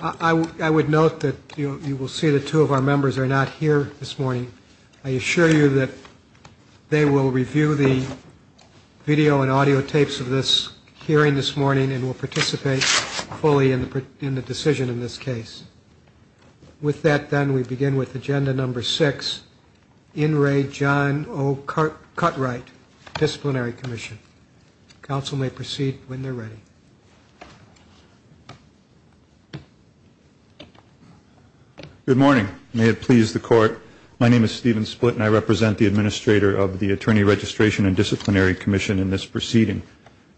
I would note that you will see that two of our members are not here this morning. I assure you that they will review the video and audio tapes of this hearing this morning and will participate fully in the decision in this case. With that then we begin with agenda number six, In Re John O. Cutright Disciplinary Commission. Council may proceed when they're ready. Good morning. May it please the court. My name is Stephen Split and I represent the administrator of the Attorney Registration and Disciplinary Commission. In this proceeding,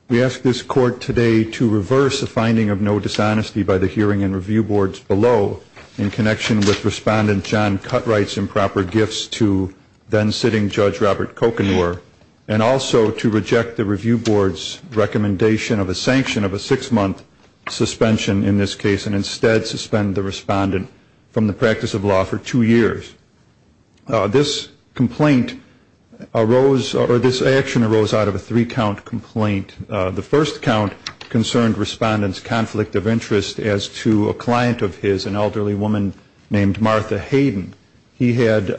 we ask this court today to reverse a finding of no dishonesty by the hearing and review boards below in connection with respondent John Cutright's improper gifts to then sitting Judge Robert Kokenor and also to reject the review boards recommendation of a sanction of a six month suspension in this case and instead suspend the respondent from the practice of law for two years. This complaint arose or this action arose out of a three count complaint. The first count concerned respondents conflict of interest as to a client of his, an elderly woman named Martha Hayden. He had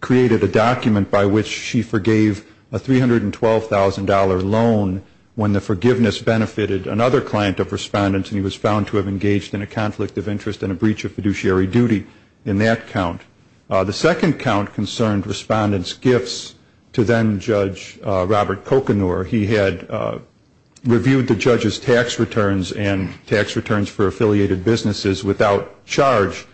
created a document by which she forgave a $312,000 loan when the forgiveness benefited another client of respondents and he was found to have engaged in a conflict of interest and a breach of fiduciary duty in that count. The second count concerned respondents gifts to then Judge Robert Kokenor. He had reviewed the judge's tax returns and tax returns for affiliated businesses without charge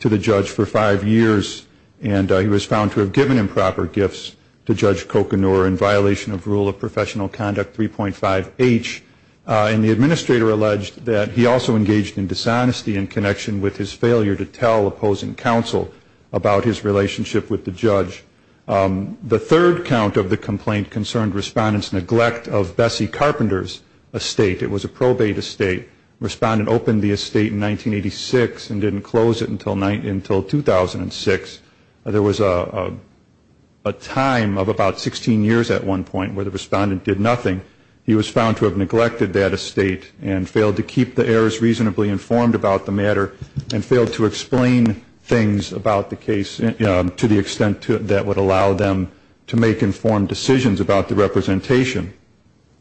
to the judge for five years and he was found to have given improper gifts to Judge Kokenor in violation of rule of professional conduct 3.5 H and the administrator alleged that he also engaged in dishonesty in connection with his failure to tell opposing counsel about his relationship with the judge. The third count of the complaint concerned respondents neglect of Bessie Carpenter's estate. It was a probate estate. Respondent opened the estate in 1986 and didn't close it until 2006. There was a time of about 16 years at one point where the respondent did nothing. He was found to have neglected that estate and failed to keep the heirs reasonably informed about the matter and failed to explain things about the case to the extent that would allow them to make informed decisions about the representation.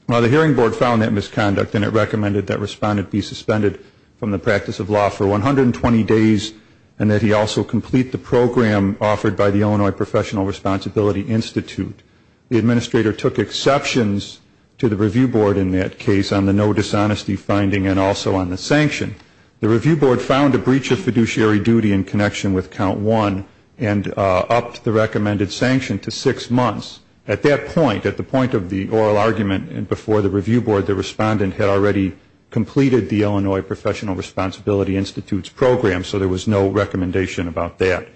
The hearing board found that misconduct and it be suspended from the practice of law for 120 days and that he also complete the program offered by the Illinois Professional Responsibility Institute. The administrator took exceptions to the review board in that case on the no dishonesty finding and also on the sanction. The review board found a breach of fiduciary duty in connection with count one and upped the recommended sanction to six months. At that point, at the point of the oral argument and the review board, the respondent had already completed the Illinois Professional Responsibility Institute's program, so there was no recommendation about that.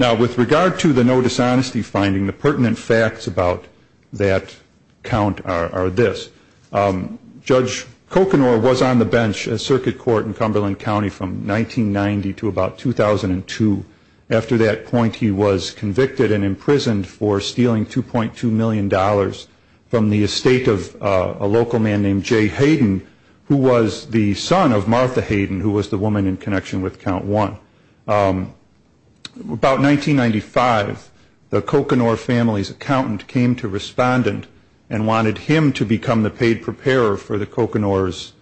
Now, with regard to the no dishonesty finding, the pertinent facts about that count are this. Judge Kokanor was on the bench at Circuit Court in Cumberland County from 1990 to about 2002. After that point, he was convicted and imprisoned for stealing $2.2 million from the estate of a local man named Jay Hayden, who was the son of Martha Hayden, who was the woman in connection with count one. About 1995, the Kokanor family's accountant came to respondent and wanted him to become the paid preparer for the Kokanor's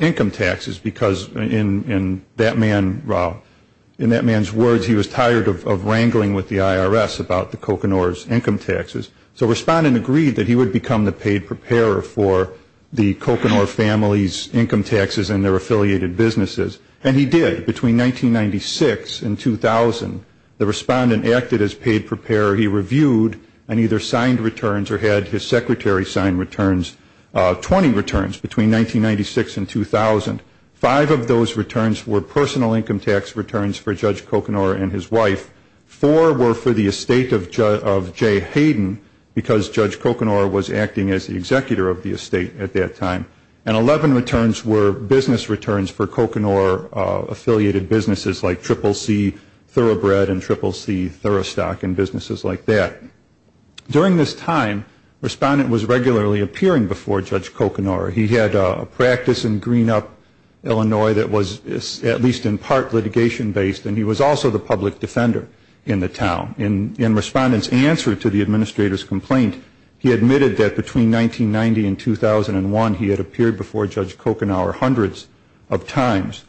income taxes because in that man's words, he was tired of wrangling with the IRS, and he didn't want to hear anything else about the Kokanor's income taxes. So respondent agreed that he would become the paid preparer for the Kokanor family's income taxes and their affiliated businesses. And he did. Between 1996 and 2000, the respondent acted as paid preparer. He reviewed and either signed returns or had his secretary sign returns, 20 returns between 1996 and 2000. Five of those returns were personal income tax returns for Judge Kokanor and his wife. Four were to the no dishonesty finding, the pertinent facts about that count are this. One was the estate of Jay Hayden, because Judge Kokanor was acting as the executor of the estate at that time. And 11 returns were business returns for Kokanor affiliated businesses like Triple C Thoroughbred and Triple C Thoroughstock and businesses like that. During this time, respondent was regularly appearing before Judge Kokanor. He had a practice in Greenup, Illinois, that was at least in part litigation based, and he was also the first person to appear before Judge Kokanor. In respondent's answer to the administrator's complaint, he admitted that between 1990 and 2001, he had appeared before Judge Kokanor hundreds of times.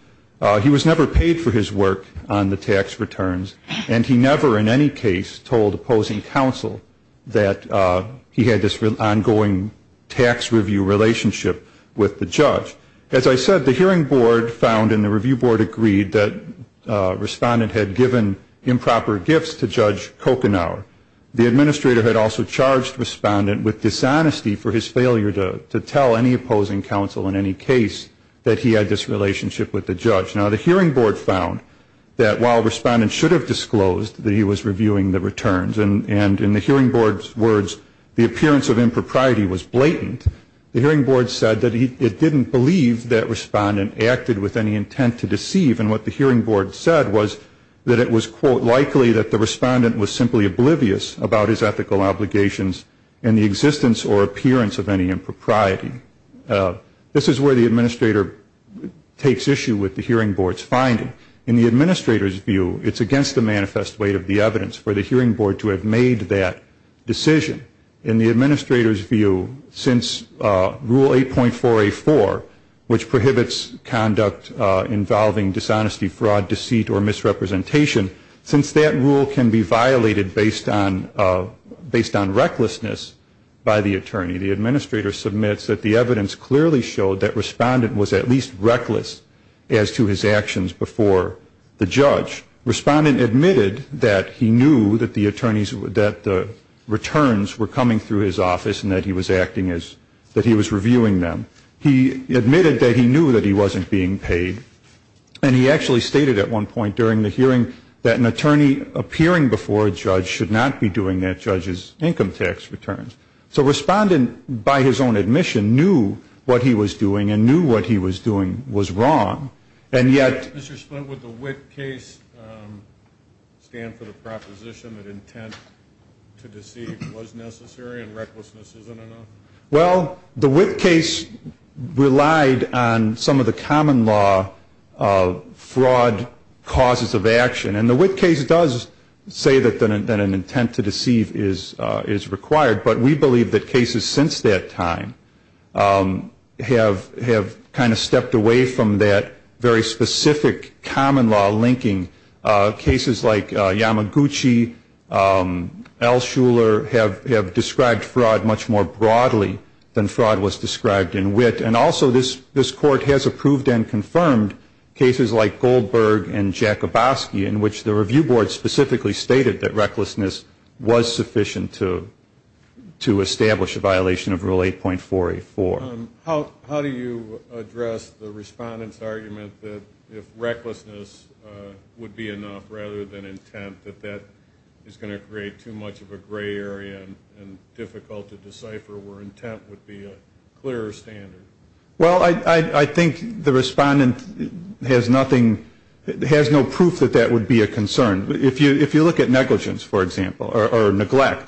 He was never paid for his work on the tax returns, and he never in any case told opposing counsel that he had this ongoing tax review relationship with the judge. As I said, the hearing board found and the review board agreed that respondent had given ongoing tax review relationship with the judge. As I said, the hearing board found that while respondent should have disclosed that he was reviewing the returns, and in the hearing board's words, the appearance of impropriety was blatant, the hearing board said that it didn't believe that respondent acted with any intent to deceive. And what the hearing board said was that it was quote, likely that the respondent was simply abusing his power. The disclosed that he was reviewing the returns, and in the hearing board's words, the respondent was simply oblivious about his ethical obligations and the existence or appearance of any impropriety. This is where the administrator takes issue with the hearing board's finding. In the administrator's view, it's against the manifest weight of the evidence for the hearing board to have made that decision. In the administrator's view, since rule 8.484, which prohibits conduct involving dishonesty, fraud, deceit, or the hearing board to have made that decision. In the administrator's view, the hearing board's finding is a different one. In the administrator's view, it's based on, based on recklessness by the attorney. The administrator submits that the evidence clearly showed that respondent was at least reckless as to his actions before the judge. Respondent admitted that he knew that the attorneys, that the returns were coming through his office and that he was acting as, that he was reviewing them. He admitted that he knew that he wasn't being paid, and he actually stated at one point during the hearing that he was not being paid, and that he would not be doing that judge's income tax returns. So respondent, by his own admission, knew what he was doing and knew what he was doing was wrong. And yet... Mr. Splint, would the Witt case stand for the proposition that intent to deceive was necessary and recklessness isn't enough? Well, the Witt case relied on some of the common law fraud causes of action. And the Witt case does say that an intent to deceive is, is required, but we believe that cases since that time have, have kind of stepped away from that very specific common law linking. Cases like Yamaguchi, Al Shuler have, have described fraud much more broadly than fraud was described in Witt. And also this, this court has approved and confirmed cases like Goldberg and Jakubowski in which the review board specifically stated that recklessness was sufficient to, to establish a violation of Rule 8.484. How, how do you address the respondent's argument that if recklessness would be enough rather than intent, that that is going to create too much of a gray area and difficult to decipher where intent would be a clearer standard? Well, I, I, I think the respondent has nothing, has no proof that that would be a concern. If you, if you look at negligence, for example, or, or neglect,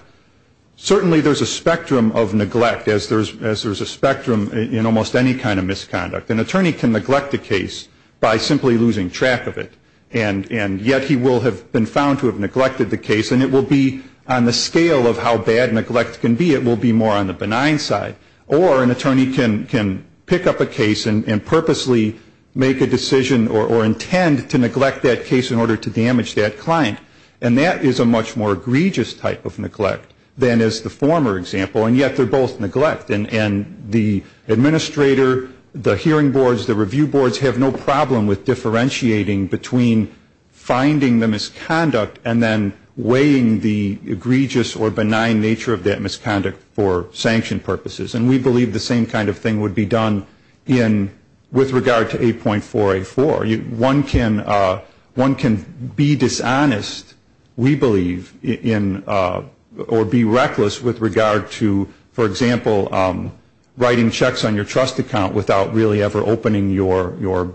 certainly there's a spectrum of neglect as there's, as there's a spectrum in almost any kind of misconduct. An attorney can neglect a case by simply losing track of it. And, and yet he will have been found to have neglected the case and it will be on the scale of how bad neglect can be, it will be more on the scale of how bad neglect can be. And so the respondent can pick up a case and, and purposely make a decision or, or intend to neglect that case in order to damage that client. And that is a much more egregious type of neglect than is the former example. And yet they're both neglect. And, and the administrator, the hearing boards, the review boards have no problem with differentiating between finding the misconduct and then weighing the egregious or benign nature of that misconduct for sanction purposes. And we believe the same kind of thing would be done in, with regard to 8.484. One can, one can be dishonest, we believe, in, or be reckless with regard to, for example, writing checks on your trust account without really ever opening your, your,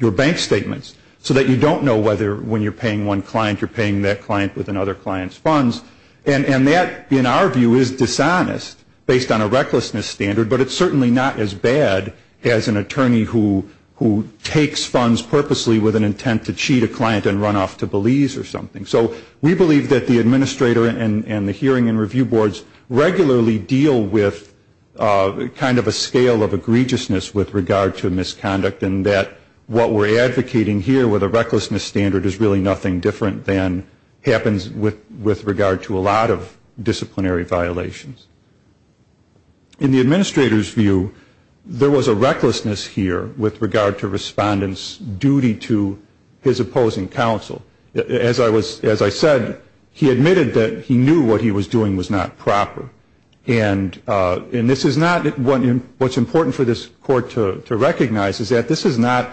your bank statements. So that you don't know whether when you're paying one client, you're paying that client with another client's funds. And, and that, in our view, is dishonest based on a recklessness standard. But it's certainly not as bad as an attorney who, who takes funds purposely with an intent to cheat a client and run off to Belize or something. So we believe that the administrator and, and the hearing and review boards regularly deal with kind of a scale of egregiousness with regard to misconduct. And that what we're advocating here with a recklessness standard is really nothing different than happens with, with regard to a lot of disciplinary violations. In the administrator's view, there was a recklessness here with regard to respondent's duty to his opposing counsel. As I was, as I said, he admitted that he knew what he was doing was not proper. And, and this is not, what, what's important for this court to, to recognize is that this is not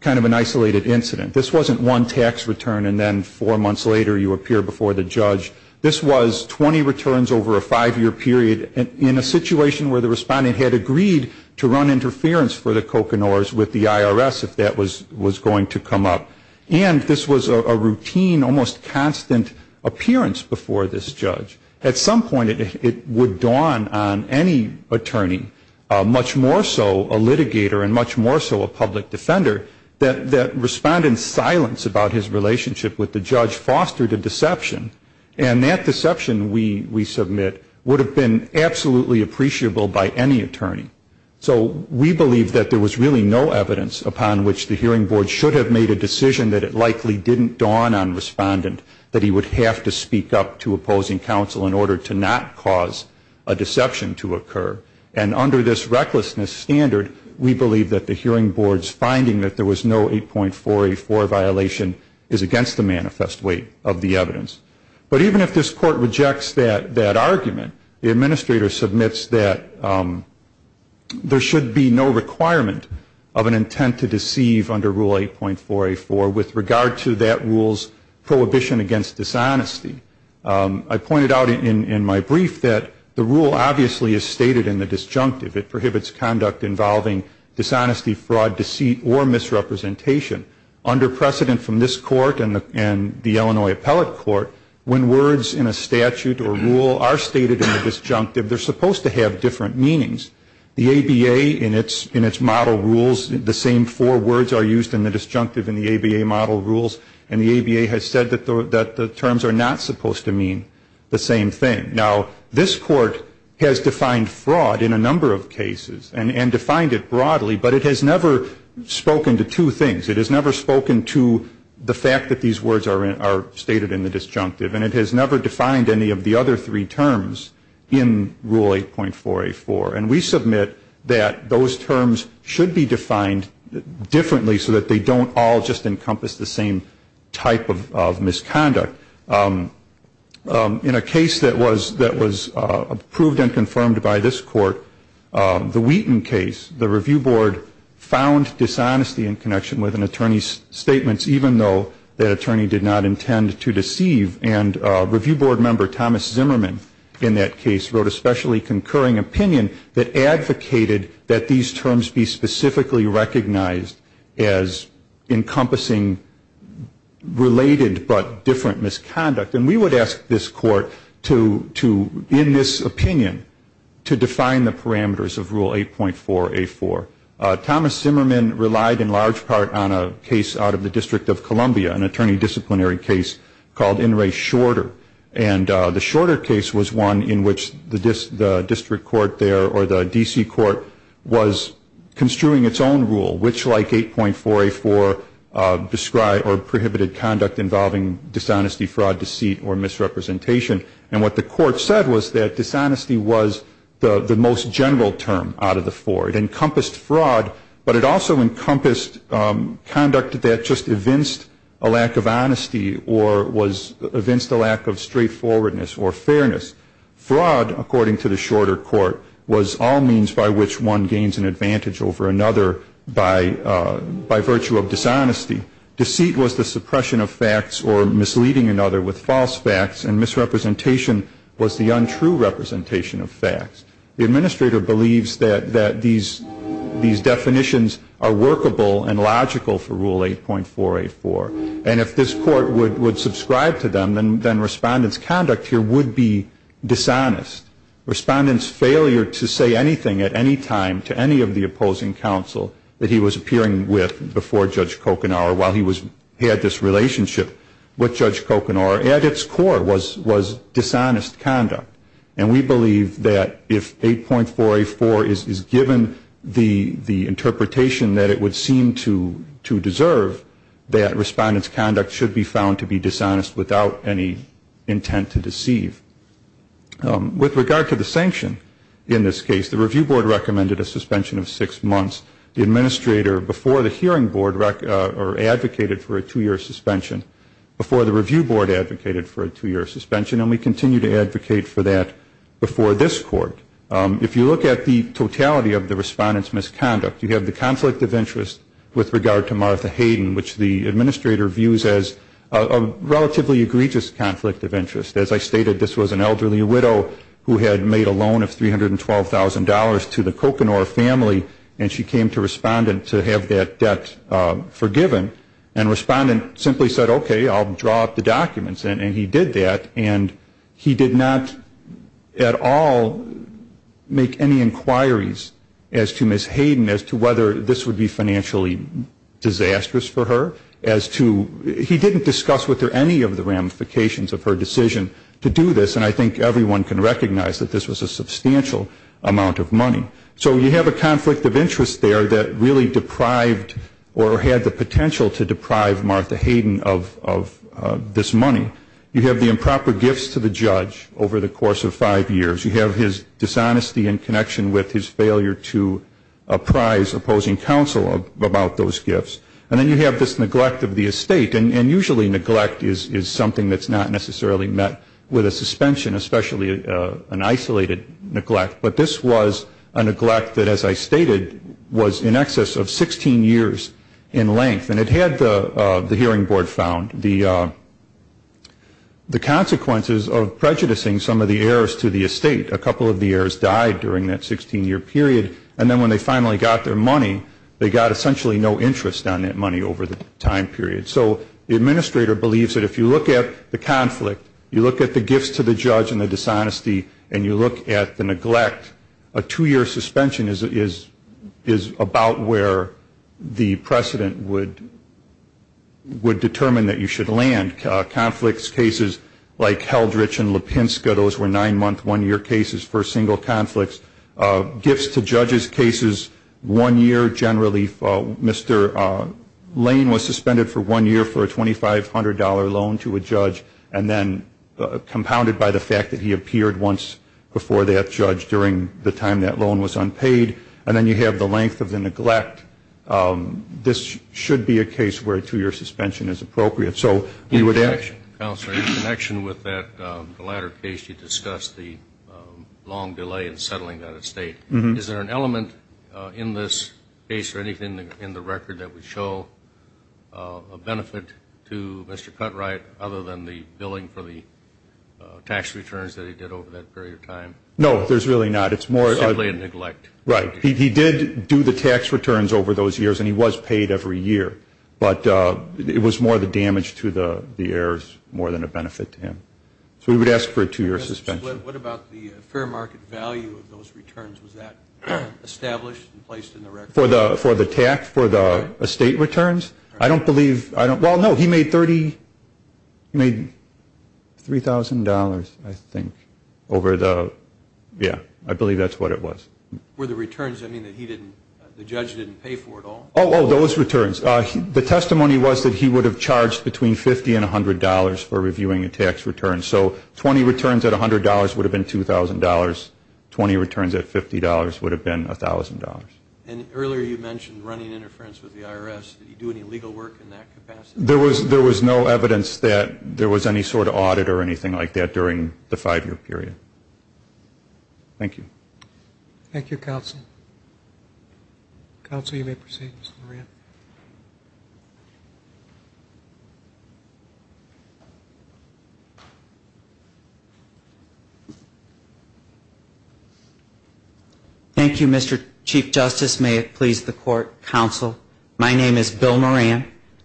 kind of an isolated incident. This wasn't one tax return and then four months later you appear before the judge. This was 20 returns over a five-year period in a situation where the respondent had agreed to run interference for the Coconores with the IRS if that was, was going to come up. And this was a, a routine, almost constant appearance before this judge. At some point it, it would dawn on any attorney, much more so a litigator and much more so a public defender, that, that respondent's silence about his relationship with the judge fostered a deception. And that deception we, we submit would have been absolutely appreciable by any attorney. So we believe that there was really no evidence upon which the hearing board should have made a decision that it likely didn't dawn on respondent that he would have to speak up to opposing counsel in order to not cause a deception to occur. And under this recklessness standard, we believe that the hearing board's finding that there was no 8.4A4 violation is against the manifest weight of the evidence. But even if this court rejects that, that argument, the administrator submits that there should be no requirement of an intent to deceive under Rule 8.4A4 with regard to that rule's prohibition against dishonesty. I pointed out in, in my brief that the rule obviously is stated in the disjunctive. It prohibits conduct involving dishonesty, fraud, deceit, or misrepresentation. Under precedent from this court and the, and the Illinois Appellate Court, when words in a statute or rule are stated in the disjunctive, they're supposed to have different meanings. The ABA in its, in its model rules, the same four words are used in the disjunctive in the ABA model rules. And the ABA has said that the, that the disjunctive should not be used in the disjunctive. Now, this court has defined fraud in a number of cases and, and defined it broadly, but it has never spoken to two things. It has never spoken to the fact that these words are in, are stated in the disjunctive. And it has never defined any of the other three terms in Rule 8.4A4. And we submit that those terms should be defined differently so that they don't all just encompass the same type of, of misconduct. In a case that was, that was approved and confirmed by this court, the Wheaton case, the review board found dishonesty in connection with an attorney's statements, even though that attorney did not intend to deceive. And review board member, Thomas Zimmerman, in that case, wrote a specially concurring opinion that advocated that these terms be specifically recognized as encompassing related but different misconduct. And we would ask this court to, to, in this opinion, to define the parameters of Rule 8.4A4. Thomas Zimmerman relied in large part on a case out of the District of Columbia, an attorney disciplinary case called In Re Shorter. And the Shorter case was one in which the dis, the district court there or the D.C. court was construing its own rule, which like 8.4A4, described or prohibited conduct involving dishonesty, fraud, deceit or misrepresentation. And what the court said was that dishonesty was the, the most general term out of the four. It encompassed fraud, but it also encompassed conduct that just evinced a lack of honesty or was, evinced a lack of straightforwardness or fairness. Fraud, according to the Shorter court, was all means by which one gains an advantage over another by, by virtue of dishonesty. Deceit was the suppression of facts or misleading another with false facts. And misrepresentation was the untrue representation of facts. The administrator believes that, that these, these definitions are workable and logical for Rule 8.4A4. And if this court would, would subscribe to them, then, then respondent's conduct here would be dishonest. Respondent's failure to say anything at any time to any of the opposing counsel that he was appearing with before Judge Kokanor while he was, had this relationship with Judge Kokanor at its core was, was dishonest conduct. And we believe that if 8.4A4 is, is given the, the interpretation that it would seem to, to deserve, that respondent's conduct should be found to be dishonest without any intent to deceive. With regard to the sanction in this case, the review board recommended a suspension of six months. The administrator before the hearing board rec, or advocated for a two year suspension, before the review board advocated for a two year suspension, and we continue to advocate for that before this court. If you look at the totality of the respondent's misconduct, you have the conflict of interest with regard to Martha Hayden, which the administrator views as a relatively egregious conflict of interest. As I stated, this was an elderly widow who had made a loan of $312,000 to the Kokanor family, and she came to respondent to have that debt forgiven. And respondent simply said, okay, I'll draw up the documents. And, and he did that, and he did not at all make any inquiries as to Ms. Hayden, as to whether this would be financially disastrous for her, as to, he didn't discuss with her any of the ramifications of her decision to do this, and I think everyone can recognize that this was a substantial amount of money. So you have a conflict of interest there that really deprived, or had the potential to deprive Martha Hayden of, of this money. You have the improper gifts to the judge over the course of five years. You have his dishonesty in connection with his failure to apprise opposing counsel about those gifts. And then you have this neglect of the estate, and usually neglect is, is something that's not necessarily met with a suspension, especially an isolated neglect. But this was a neglect that, as I stated, was in excess of 16 years in length, and it had the, the hearing board found the, the consequences of prejudicing some of the heirs to the estate. A couple of the heirs died during that 16 year period, and then when they finally got their money, they got essentially no interest on that money over the time period. So the administrator believes that if you look at the conflict, you look at the gifts to the judge and the dishonesty, and you look at the neglect, a two year suspension is, is, is about where the precedent would, would determine that you should land. Conflicts, cases like Heldrich and Lipinska, those were nine month, one year cases for single conflicts. Gifts to judges cases, one year generally for, Mr. Lane was suspended for one year for a $2,500 loan to a judge and then compounded by the fact that he appeared once before that judge during the time that loan was unpaid. And then you have the length of the neglect. This should be a case where a two year suspension is appropriate. So we would have. In connection with that, the latter case you discussed, the long delay in this case or anything in the record that would show a benefit to Mr. Cuntright other than the billing for the tax returns that he did over that period of time? No, there's really not. It's more. Simply a neglect. Right. He, he did do the tax returns over those years and he was paid every year. But it was more the damage to the, the heirs more than a benefit to him. So we would ask for a two year suspension. What about the fair market value of those returns? Was that established and placed in the record? For the, for the tax, for the estate returns? I don't believe, I don't, well no, he made 30, he made $3,000 I think over the, yeah, I believe that's what it was. Were the returns, I mean, that he didn't, the judge didn't pay for at all? Oh, oh, those returns. The testimony was that he would have charged between $50 and $100 for reviewing a tax return. So 20 returns at $100 would have been $2,000. 20 returns at $50 would have been $1,000. And earlier you mentioned running interference with the IRS. Did he do any legal work in that capacity? There was, there was no evidence that there was any sort of audit or anything like that during the five year period. Thank you. Thank you, counsel. Counsel, you may proceed, Mr. Moran. Thank you, Mr. Chief Justice. May it please the court, counsel. My name is Bill Moran.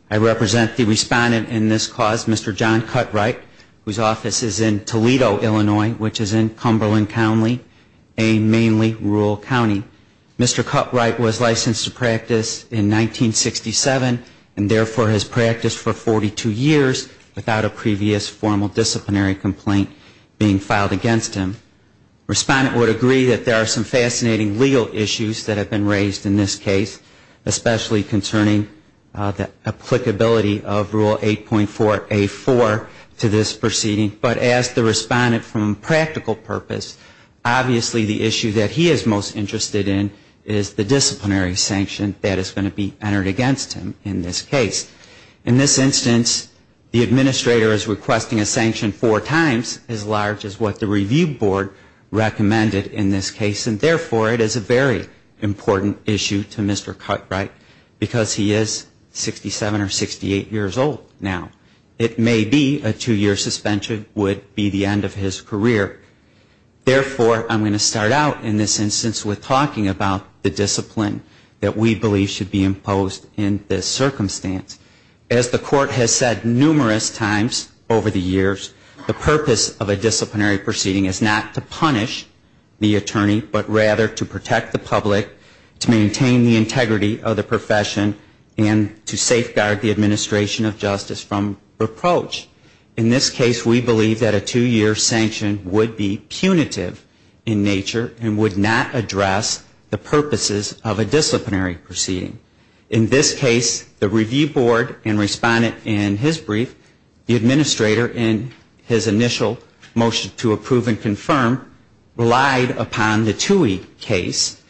I represent the respondent in this cause, Mr. John Cutright, whose name mainly ruled county. Mr. Cutright was licensed to practice in 1967 and therefore has practiced for 42 years without a previous formal disciplinary complaint being filed against him. Respondent would agree that there are some fascinating legal issues that have been raised in this case, especially concerning the applicability of Rule 8.4A4 to this proceeding. But as the issue that he is most interested in is the disciplinary sanction that is going to be entered against him in this case. In this instance, the administrator is requesting a sanction four times as large as what the review board recommended in this case. And therefore, it is a very important issue to Mr. Cutright because he is 67 or 68 years old now. It may be a two year suspension would be the end of his career. Therefore, I'm going to start out in this instance with talking about the discipline that we believe should be imposed in this circumstance. As the court has said numerous times over the years, the purpose of a disciplinary proceeding is not to punish the attorney, but rather to protect the public, to maintain the integrity of the profession, and to safeguard the public. In this case, the review board and respondent in his brief, the administrator in his initial motion to approve and confirm, relied upon the Tuohy case.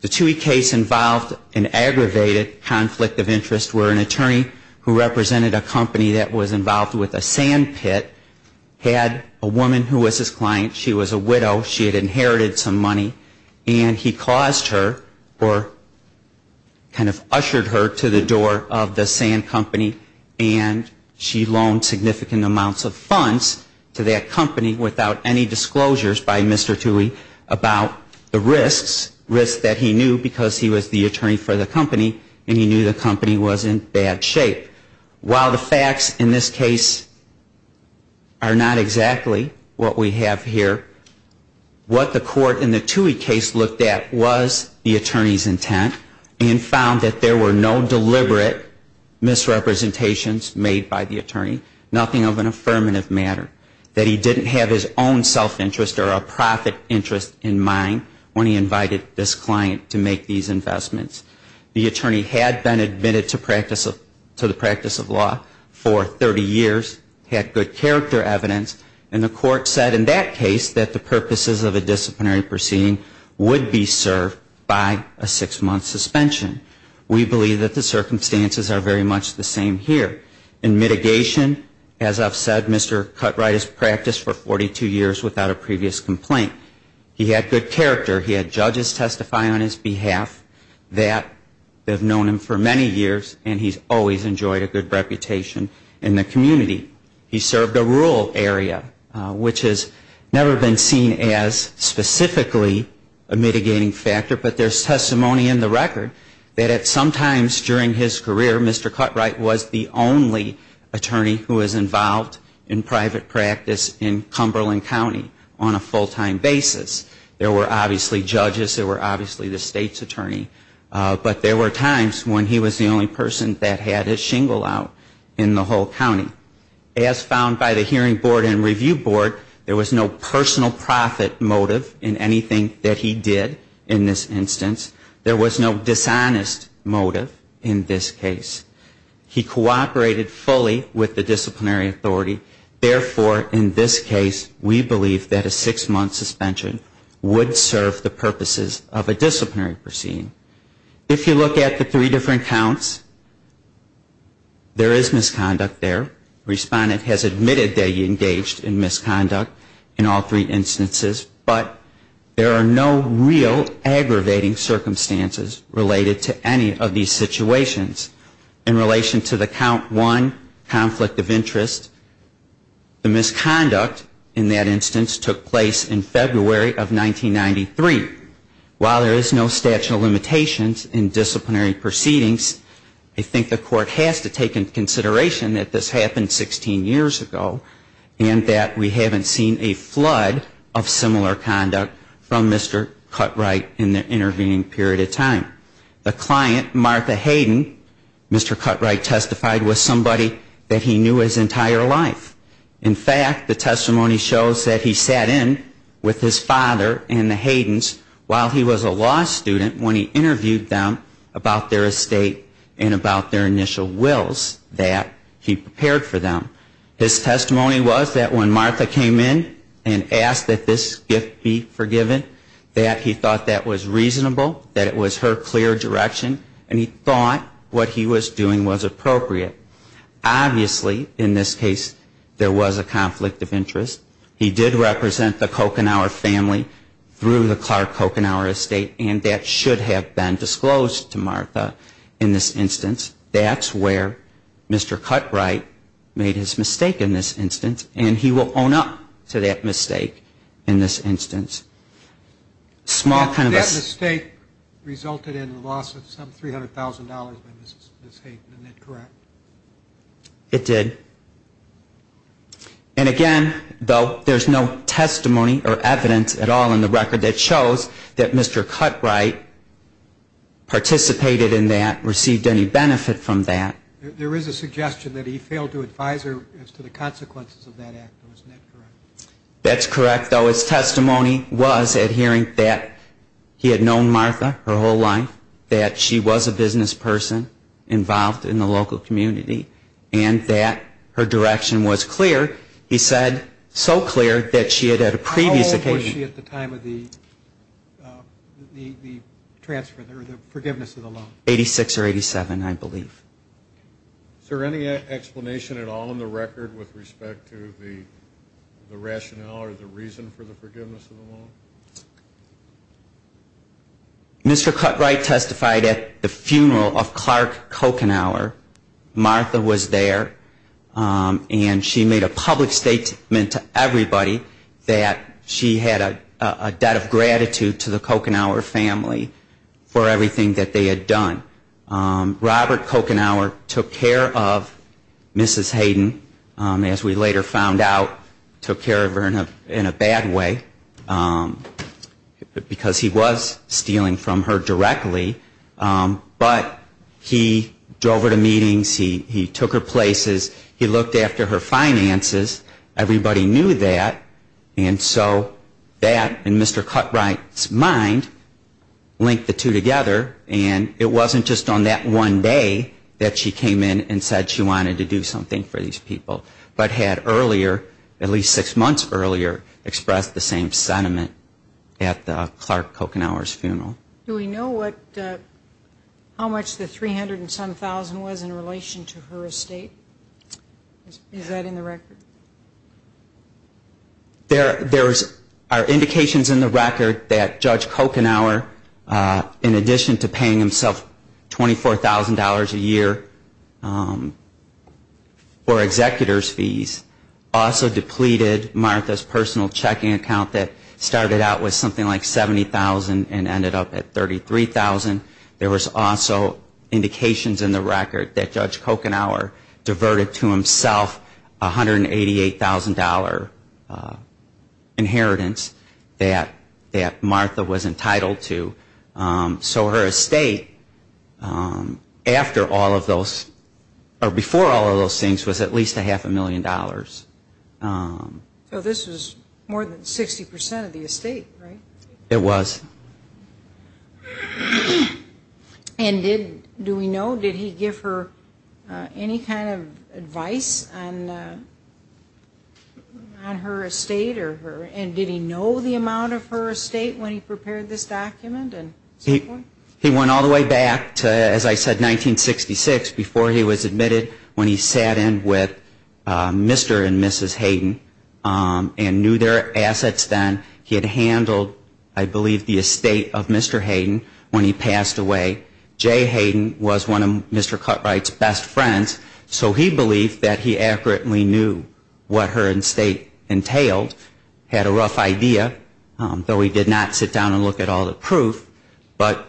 The Tuohy case involved an aggravated conflict of interest where an attorney who represented a company that was involved with a sand pit had a woman who was his client, she was a widow, she had inherited some money, and he caused her or kind of ushered her to the door of the sand company and she loaned significant amounts of funds to that company without any disclosures by Mr. Tuohy about the risks, risks that he knew because he was the attorney for the company and he knew the company was in bad shape. While the facts in this case are not exactly what we have here, what the court in the Tuohy case looked at was the attorney's intent and found that there were no deliberate misrepresentations made by the attorney, nothing of an affirmative matter, that he didn't have his own self-interest or a profit interest in mind when he invited this client to make these investments. The attorney had been admitted to prison, had good character evidence, and the court said in that case that the purposes of a disciplinary proceeding would be served by a six-month suspension. We believe that the circumstances are very much the same here. In mitigation, as I've said, Mr. Cutright has practiced for 42 years without a previous complaint. He had good character. He had judges testify on his behalf that have known him for many years and he's always enjoyed a good reputation in the community. He served a rural area, which has never been seen as specifically a mitigating factor, but there's testimony in the record that at some times during his career, Mr. Cutright was the only attorney who was involved in private practice in Cumberland County on a full-time basis. There were obviously judges, there were obviously the state's attorney, but there were times when he was the only person that had his shingle out in the whole county. As found by the Hearing Board and Review Board, there was no personal profit motive in anything that he did in this instance. There was no dishonest motive in this case. He cooperated fully with the disciplinary authority. Therefore, in this case, we believe that a six-month suspension would serve the purposes of a disciplinary proceeding. If you look at the three different counts, there is misconduct there. The respondent has admitted that he engaged in misconduct in all three instances, but there are no real aggravating circumstances related to any of these situations. In relation to the count one, conflict of interest, the misconduct in that instance took place in February of 1993. While there is no statute of limitations in disciplinary proceedings, I think the court has to take into consideration that this happened 16 years ago and that we haven't seen a flood of similar conduct from Mr. Cutright in the intervening period of time. The client, Martha Hayden, Mr. Cutright testified was somebody that he knew his entire life. In fact, the testimony shows that he sat in with his father and the Haydens while he was a law student when he interviewed them about their estate and about their initial wills that he prepared for them. His testimony was that when Martha came in and asked that this gift be forgiven, that he thought that was reasonable, that it was her clear direction, and he thought what he was doing was appropriate. Obviously, in this case, there was a conflict of interest. He did represent the Coconauer family through the Clark Coconauer estate, and that should have been disclosed to Martha in this instance. That's where Mr. Cutright made his mistake in this instance, and he will own up to that mistake in this instance. Small kind of a... But that mistake resulted in the loss of some $300,000 by Ms. Hayden. Isn't that correct? It did. And again, though, there's no testimony or evidence at all in the record that shows that Mr. Cutright participated in that, received any benefit from that. There is a suggestion that he failed to advise her as to the consequences of that act, though. Isn't that correct? That's correct, though. His testimony was adhering that he had known Martha her whole life, that she was a business person involved in the local community, and that her direction was clear. He said so clear that she had, at a previous occasion... How old was she at the time of the transfer, or the forgiveness of the loan? 86 or 87, I believe. Is there any explanation at all in the record with respect to the rationale or the reason for the forgiveness of the loan? Mr. Cutright testified at the funeral of Clark Coconauer. Martha was there, and she made a public statement to everybody that she had a debt of gratitude to the Coconauer family for everything that they had done. Robert Coconauer took care of Mrs. Hayden, as we later found out, took care of her in a bad way, because he was stealing from her directly, but he drove her to meetings, he took her places, he looked after her finances. Everybody knew that, and so that in Mr. Cutright's mind linked the two together, and it wasn't just on that one day that she came in and said she wanted to do something for these people, but had earlier, at least six months earlier, expressed the same sentiment at the Clark Coconauer's funeral. Do we know how much the 300 and some thousand was in relation to her estate? Is that in the record? There are indications in the record that Judge Coconauer, in addition to paying himself $24,000 a year for executor's fees, also depleted Martha's personal checking account that started out with something like $70,000 and ended up at $33,000. There was also indications in the record that Judge Coconauer diverted to himself $188,000 inheritance that Martha was entitled to. So her estate, after all of those, or before all of those things, was at least a half a million dollars. So this was more than 60% of the estate, right? It was. And do we know, did he give her any kind of advice on her estate? And did he know the amount of her estate when he prepared this document? He went all the way back to, as I said, 1966, before he was admitted, when he sat in with Mr. and Mrs. Hayden and knew their assets then. He had handled, I believe, the estate of Mr. Hayden when he passed away. Jay Hayden was one of Mr. Cutright's best friends, so he believed that he accurately knew what her estate entailed, had a rough idea, though he did not sit down and look at all the proof. But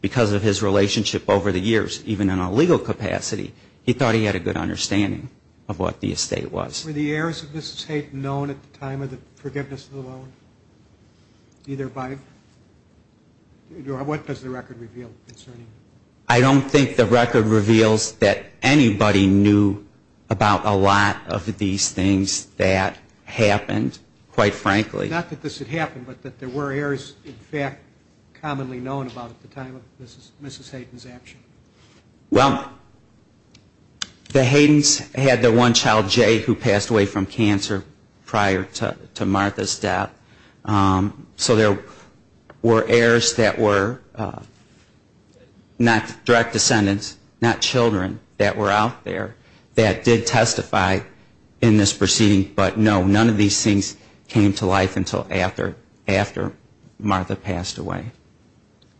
because of his relationship over the years, even in a legal capacity, he thought he had a good understanding of what the estate was. Were the heirs of Mrs. Hayden known at the time of the forgiveness of the loan, either by, what does the record reveal concerning that? I don't think the record reveals that anybody knew about a lot of these things that happened, quite frankly. Not that this had happened, but that there were heirs, in fact, commonly known about at the time of Mrs. Hayden's action. Well, the Haydens had their one child, Jay, who passed away from cancer prior to that. So there were heirs that were not direct descendants, not children that were out there that did testify in this proceeding, but no, none of these things came to life until after Martha passed away.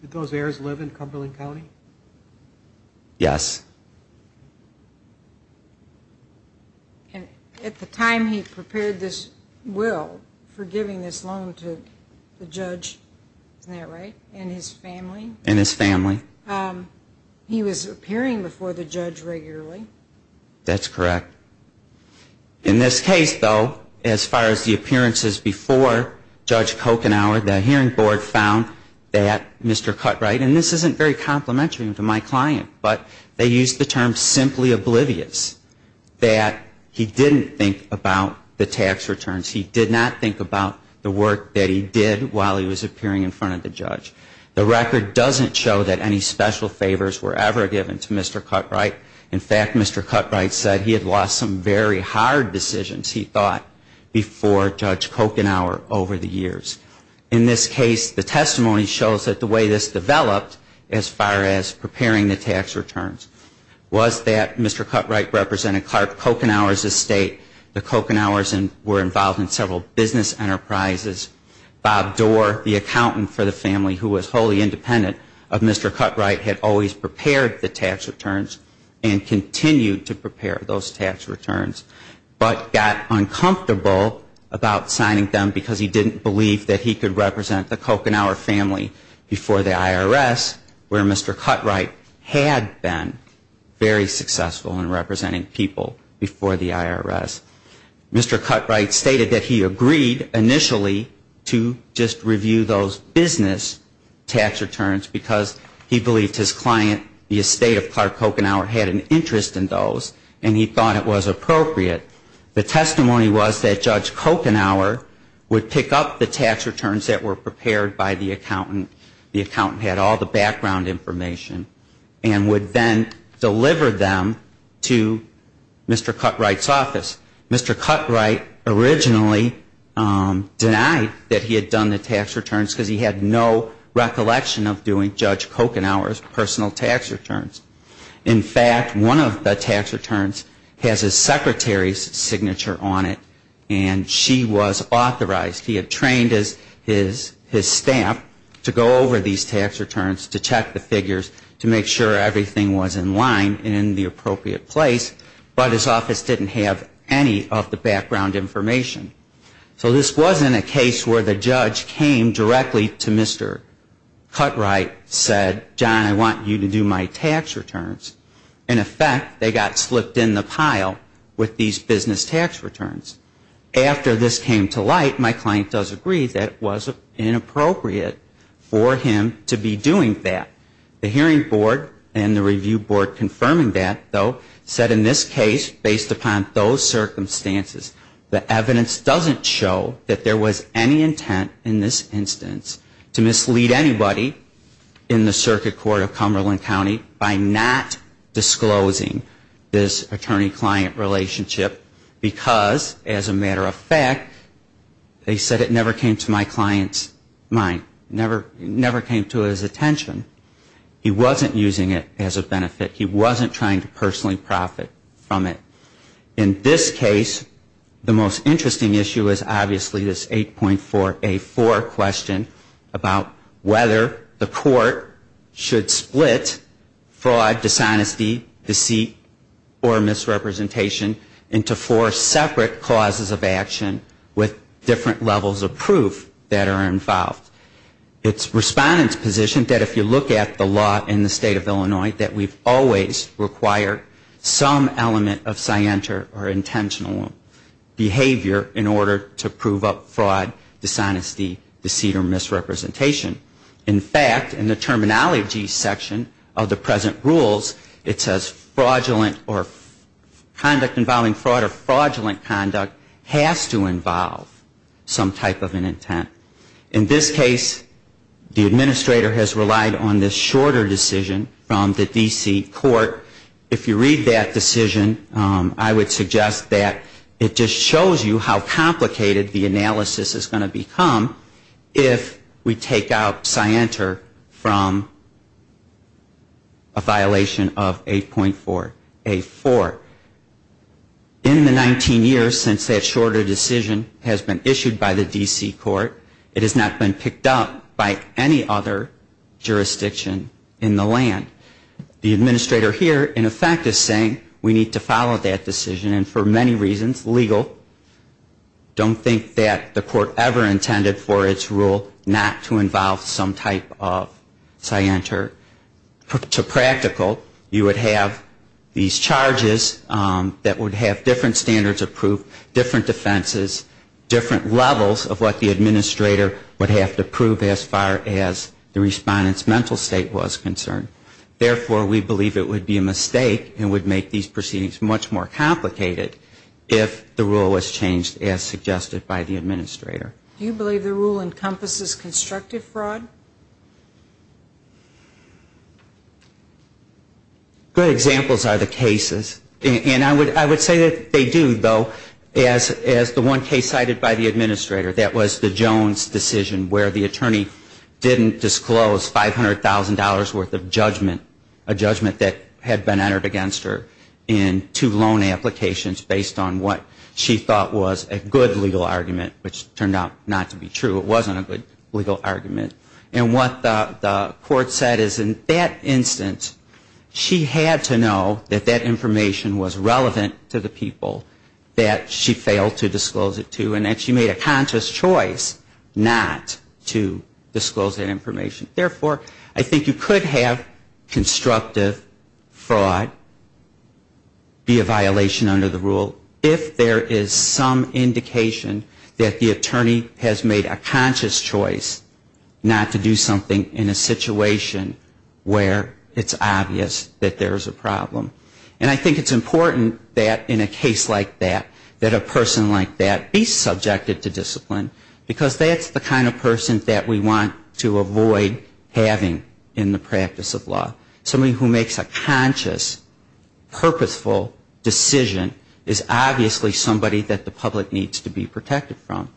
Did those heirs live in Cumberland County? Yes. And at the time he prepared this will for giving this loan to the judge, isn't that right, and his family? And his family. He was appearing before the judge regularly. That's correct. In this case, though, as far as the appearances before Judge Kochenauer, the hearing board found that Mr. Cutright, and this isn't very obvious, used the term simply oblivious, that he didn't think about the tax returns. He did not think about the work that he did while he was appearing in front of the judge. The record doesn't show that any special favors were ever given to Mr. Cutright. In fact, Mr. Cutright said he had lost some very hard decisions, he thought, before Judge Kochenauer over the years. In this case, the testimony shows that the way this developed as far as preparing the tax returns was that Mr. Cutright represented Clark Kochenauer's estate, the Kochenauers were involved in several business enterprises, Bob Dorr, the accountant for the family who was wholly independent of Mr. Cutright had always prepared the tax returns and continued to prepare those tax returns, but got uncomfortable about signing them because he didn't believe that he could have been very successful in representing people before the IRS. Mr. Cutright stated that he agreed initially to just review those business tax returns because he believed his client, the estate of Clark Kochenauer, had an interest in those and he thought it was appropriate. The testimony was that Judge Kochenauer would pick up the tax returns that were prepared by the client and would then deliver them to Mr. Cutright's office. Mr. Cutright originally denied that he had done the tax returns because he had no recollection of doing Judge Kochenauer's personal tax returns. In fact, one of the tax returns has his secretary's signature on it and she was authorized, he had trained his staff to go over these tax returns to check the figures to make sure everything was in line and in the appropriate place, but his office didn't have any of the background information. So this wasn't a case where the judge came directly to Mr. Cutright, said, John, I want you to do my tax returns. In effect, they got slipped in the pile with these business tax returns. After this came to light, my client does agree that it was inappropriate for him to be doing that. The hearing board and the review board confirming that, though, said in this case, based upon those circumstances, the evidence doesn't show that there was any intent in this instance to mislead anybody in the Circuit Court of Cumberland County by not disclosing this attorney-client relationship because, as a matter of fact, they said it never came to my client's mind, never came to his attention. He wasn't using it as a benefit. He wasn't trying to personally profit from it. In this case, the most interesting issue is obviously this 8.4A4 question about whether the court should split fraud, dishonesty, deceit or misrepresentation into four separate causes of action with different levels of proof that are involved. It's Respondent's position that if you look at the law in the state of Illinois, that we've always required some element of scienter or intentional behavior in order to prove up fraud, dishonesty, deceit or misrepresentation. In fact, in the terminology section of the present rules, it says fraudulent or conduct involving fraud or fraudulent conduct has to involve some type of an intent. In this case, the administrator has relied on this shorter decision from the D.C. court. If you read that decision, I would suggest that it just shows you how complicated the analysis is going to become if we take out scienter from a violation of 8.4A4. In the 19 years since that shorter decision has been issued by the D.C. court, it has not been picked up by any other jurisdiction in the land. The administrator here, in effect, is saying we need to follow that decision and for many reasons, legal, don't think that the court ever intended for its rule not to involve some type of scienter. To practical, you would have these charges that would have different standards of proof, different defenses, different levels of what the administrator would have to prove as far as the respondent's mental state was concerned. Therefore, we believe it would be a mistake and would make these proceedings much more complicated if the rule was changed as suggested by the administrator. Do you believe the rule encompasses constructive fraud? Good examples are the cases. And I would say that they do, though. As the one case cited by the administrator, that was the Jones decision where the attorney didn't disclose $500,000 worth of judgment, a judgment that had been entered against her in two loan applications based on what she thought was a good legal argument, which turned out not to be true. It wasn't a good legal argument. And what the court said is in that instance, she had to know that that information was relevant to the people that she failed to disclose it to and that she made a conscious choice not to disclose that information. Therefore, I think you could have constructive fraud be a violation under the rule if there is some indication that the attorney has made a conscious choice not to do something in a situation where it's obvious that there is a problem. And I think it's important that in a case like that, that a person like that be subjected to discipline, because that's the kind of person that we want to avoid having in the practice of law. Somebody who makes a conscious, purposeful decision is obviously somebody that the public needs to be protected from.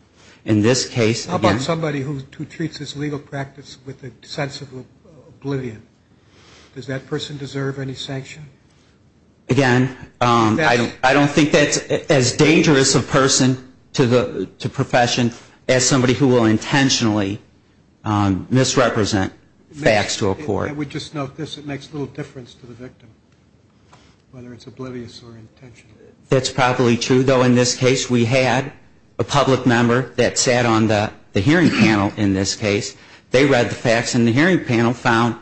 In this case... How about somebody who treats this legal practice with a sense of oblivion? Does that person deserve any sanction? Again, I don't think that's as dangerous a person to the profession as somebody who will intentionally misrepresent facts to a court. I would just note this, it makes little difference to the victim, whether it's oblivious or intentional. That's probably true, though in this case we had a public member that sat on the hearing panel in this case. They read the facts and the hearing panel found,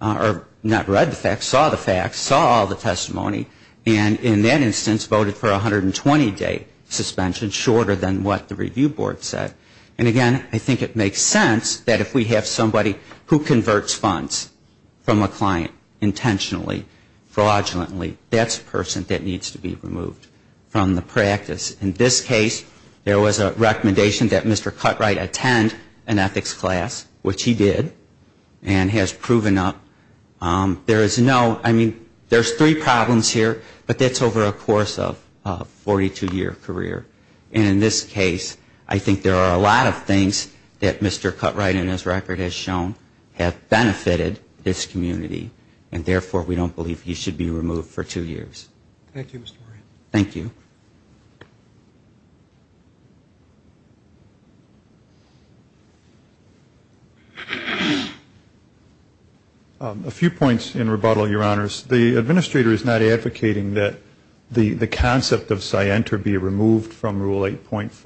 or not read the facts, saw the facts, saw all the testimony, and in that instance removed from a client intentionally, fraudulently. That's a person that needs to be removed from the practice. In this case, there was a recommendation that Mr. Cutright attend an ethics class, which he did, and has proven up. There is no, I mean, there's three problems here, but that's over a course of a 42-year career. And in this case, I think there are a lot of things that Mr. Cutright did that he did not want to be removed from the practice. And I think that's the reason why we have this community, and therefore we don't believe he should be removed for two years. Thank you. A few points in rebuttal, Your Honors. The administrator is not advocating that the concept of scienter be removed from the practice.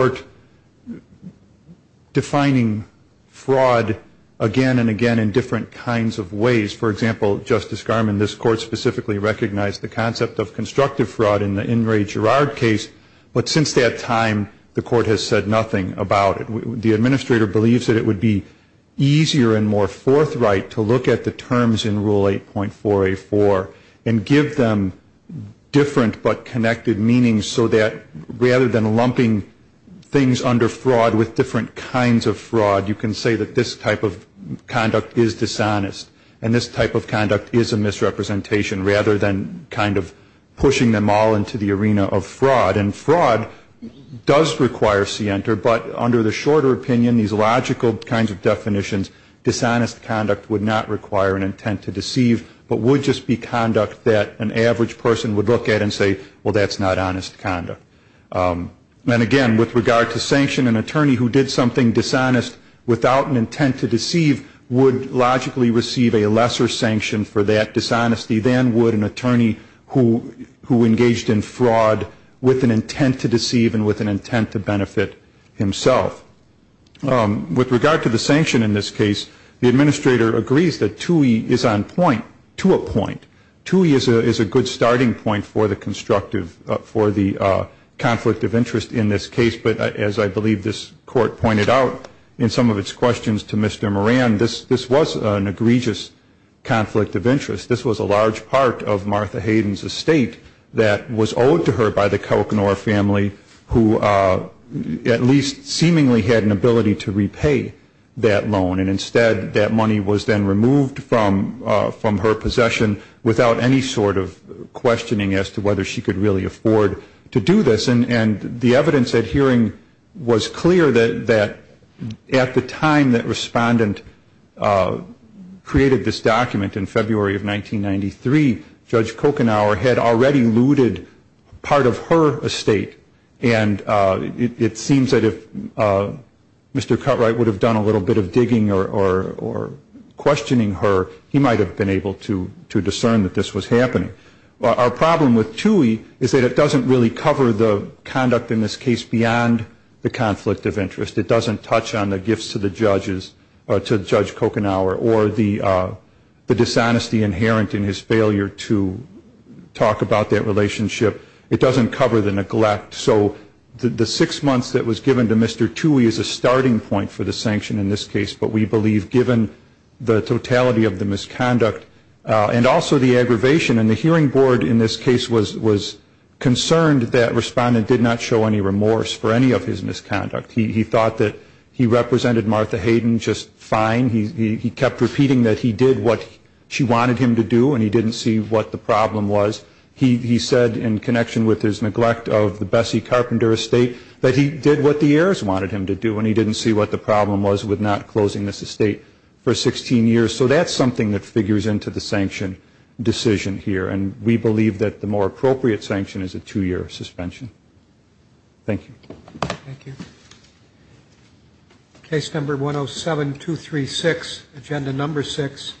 The administrator believes that it would be easier and more forthright to look at the terms in Rule 8.484 and give them different but connected meanings, so that rather than lumping things under four, it would be more forthright to say that this type of conduct is dishonest. And this type of conduct is a misrepresentation, rather than kind of pushing them all into the arena of fraud. And fraud does require scienter, but under the shorter opinion, these logical kinds of definitions, dishonest conduct would not require an intent to deceive, but would just be conduct that an attorney who did something dishonest without an intent to deceive would logically receive a lesser sanction for that dishonesty than would an attorney who engaged in fraud with an intent to deceive and with an intent to benefit himself. With regard to the sanction in this case, the administrator agrees that 2E is on point, to a point. 2E is a good starting point for the conflict of interest in this case, but as I believe this Court pointed out in some of its questions to Mr. Moran, this was an egregious conflict of interest. This was a large part of Martha Hayden's estate that was owed to her by the Kauknor family, who at least seemingly had an ability to repay that loan, and instead that money was then removed from her possession without any sort of incentive to do this. And the evidence at hearing was clear that at the time that Respondent created this document in February of 1993, Judge Kauknor had already looted part of her estate, and it seems that if Mr. Cutright would have done a little bit of digging or questioning her, he might have been able to discern that this was happening. Our problem with 2E is that it doesn't really cover the conduct in this case beyond the conflict of interest. It doesn't touch on the gifts to Judge Kauknor or the dishonesty inherent in his failure to talk about that relationship. It doesn't cover the neglect. So the six months that was given to Mr. 2E is a starting point for the sanction in this case, but we believe given the totality of the misconduct and also the aggravation, and the hearing board in this case was concerned that Respondent did not show any remorse for any of his misconduct. He thought that he represented Martha Hayden just fine. He kept repeating that he did what she wanted him to do, and he didn't see what the problem was. He said in connection with his neglect of the Bessie Carpenter estate, that he did what the heirs wanted him to do, and he didn't see what the problem was with not closing this estate for 16 years. So that's something that figures into the sanction decision here, and we believe that the more appropriate sanction is a two-year suspension. Thank you. Thank you.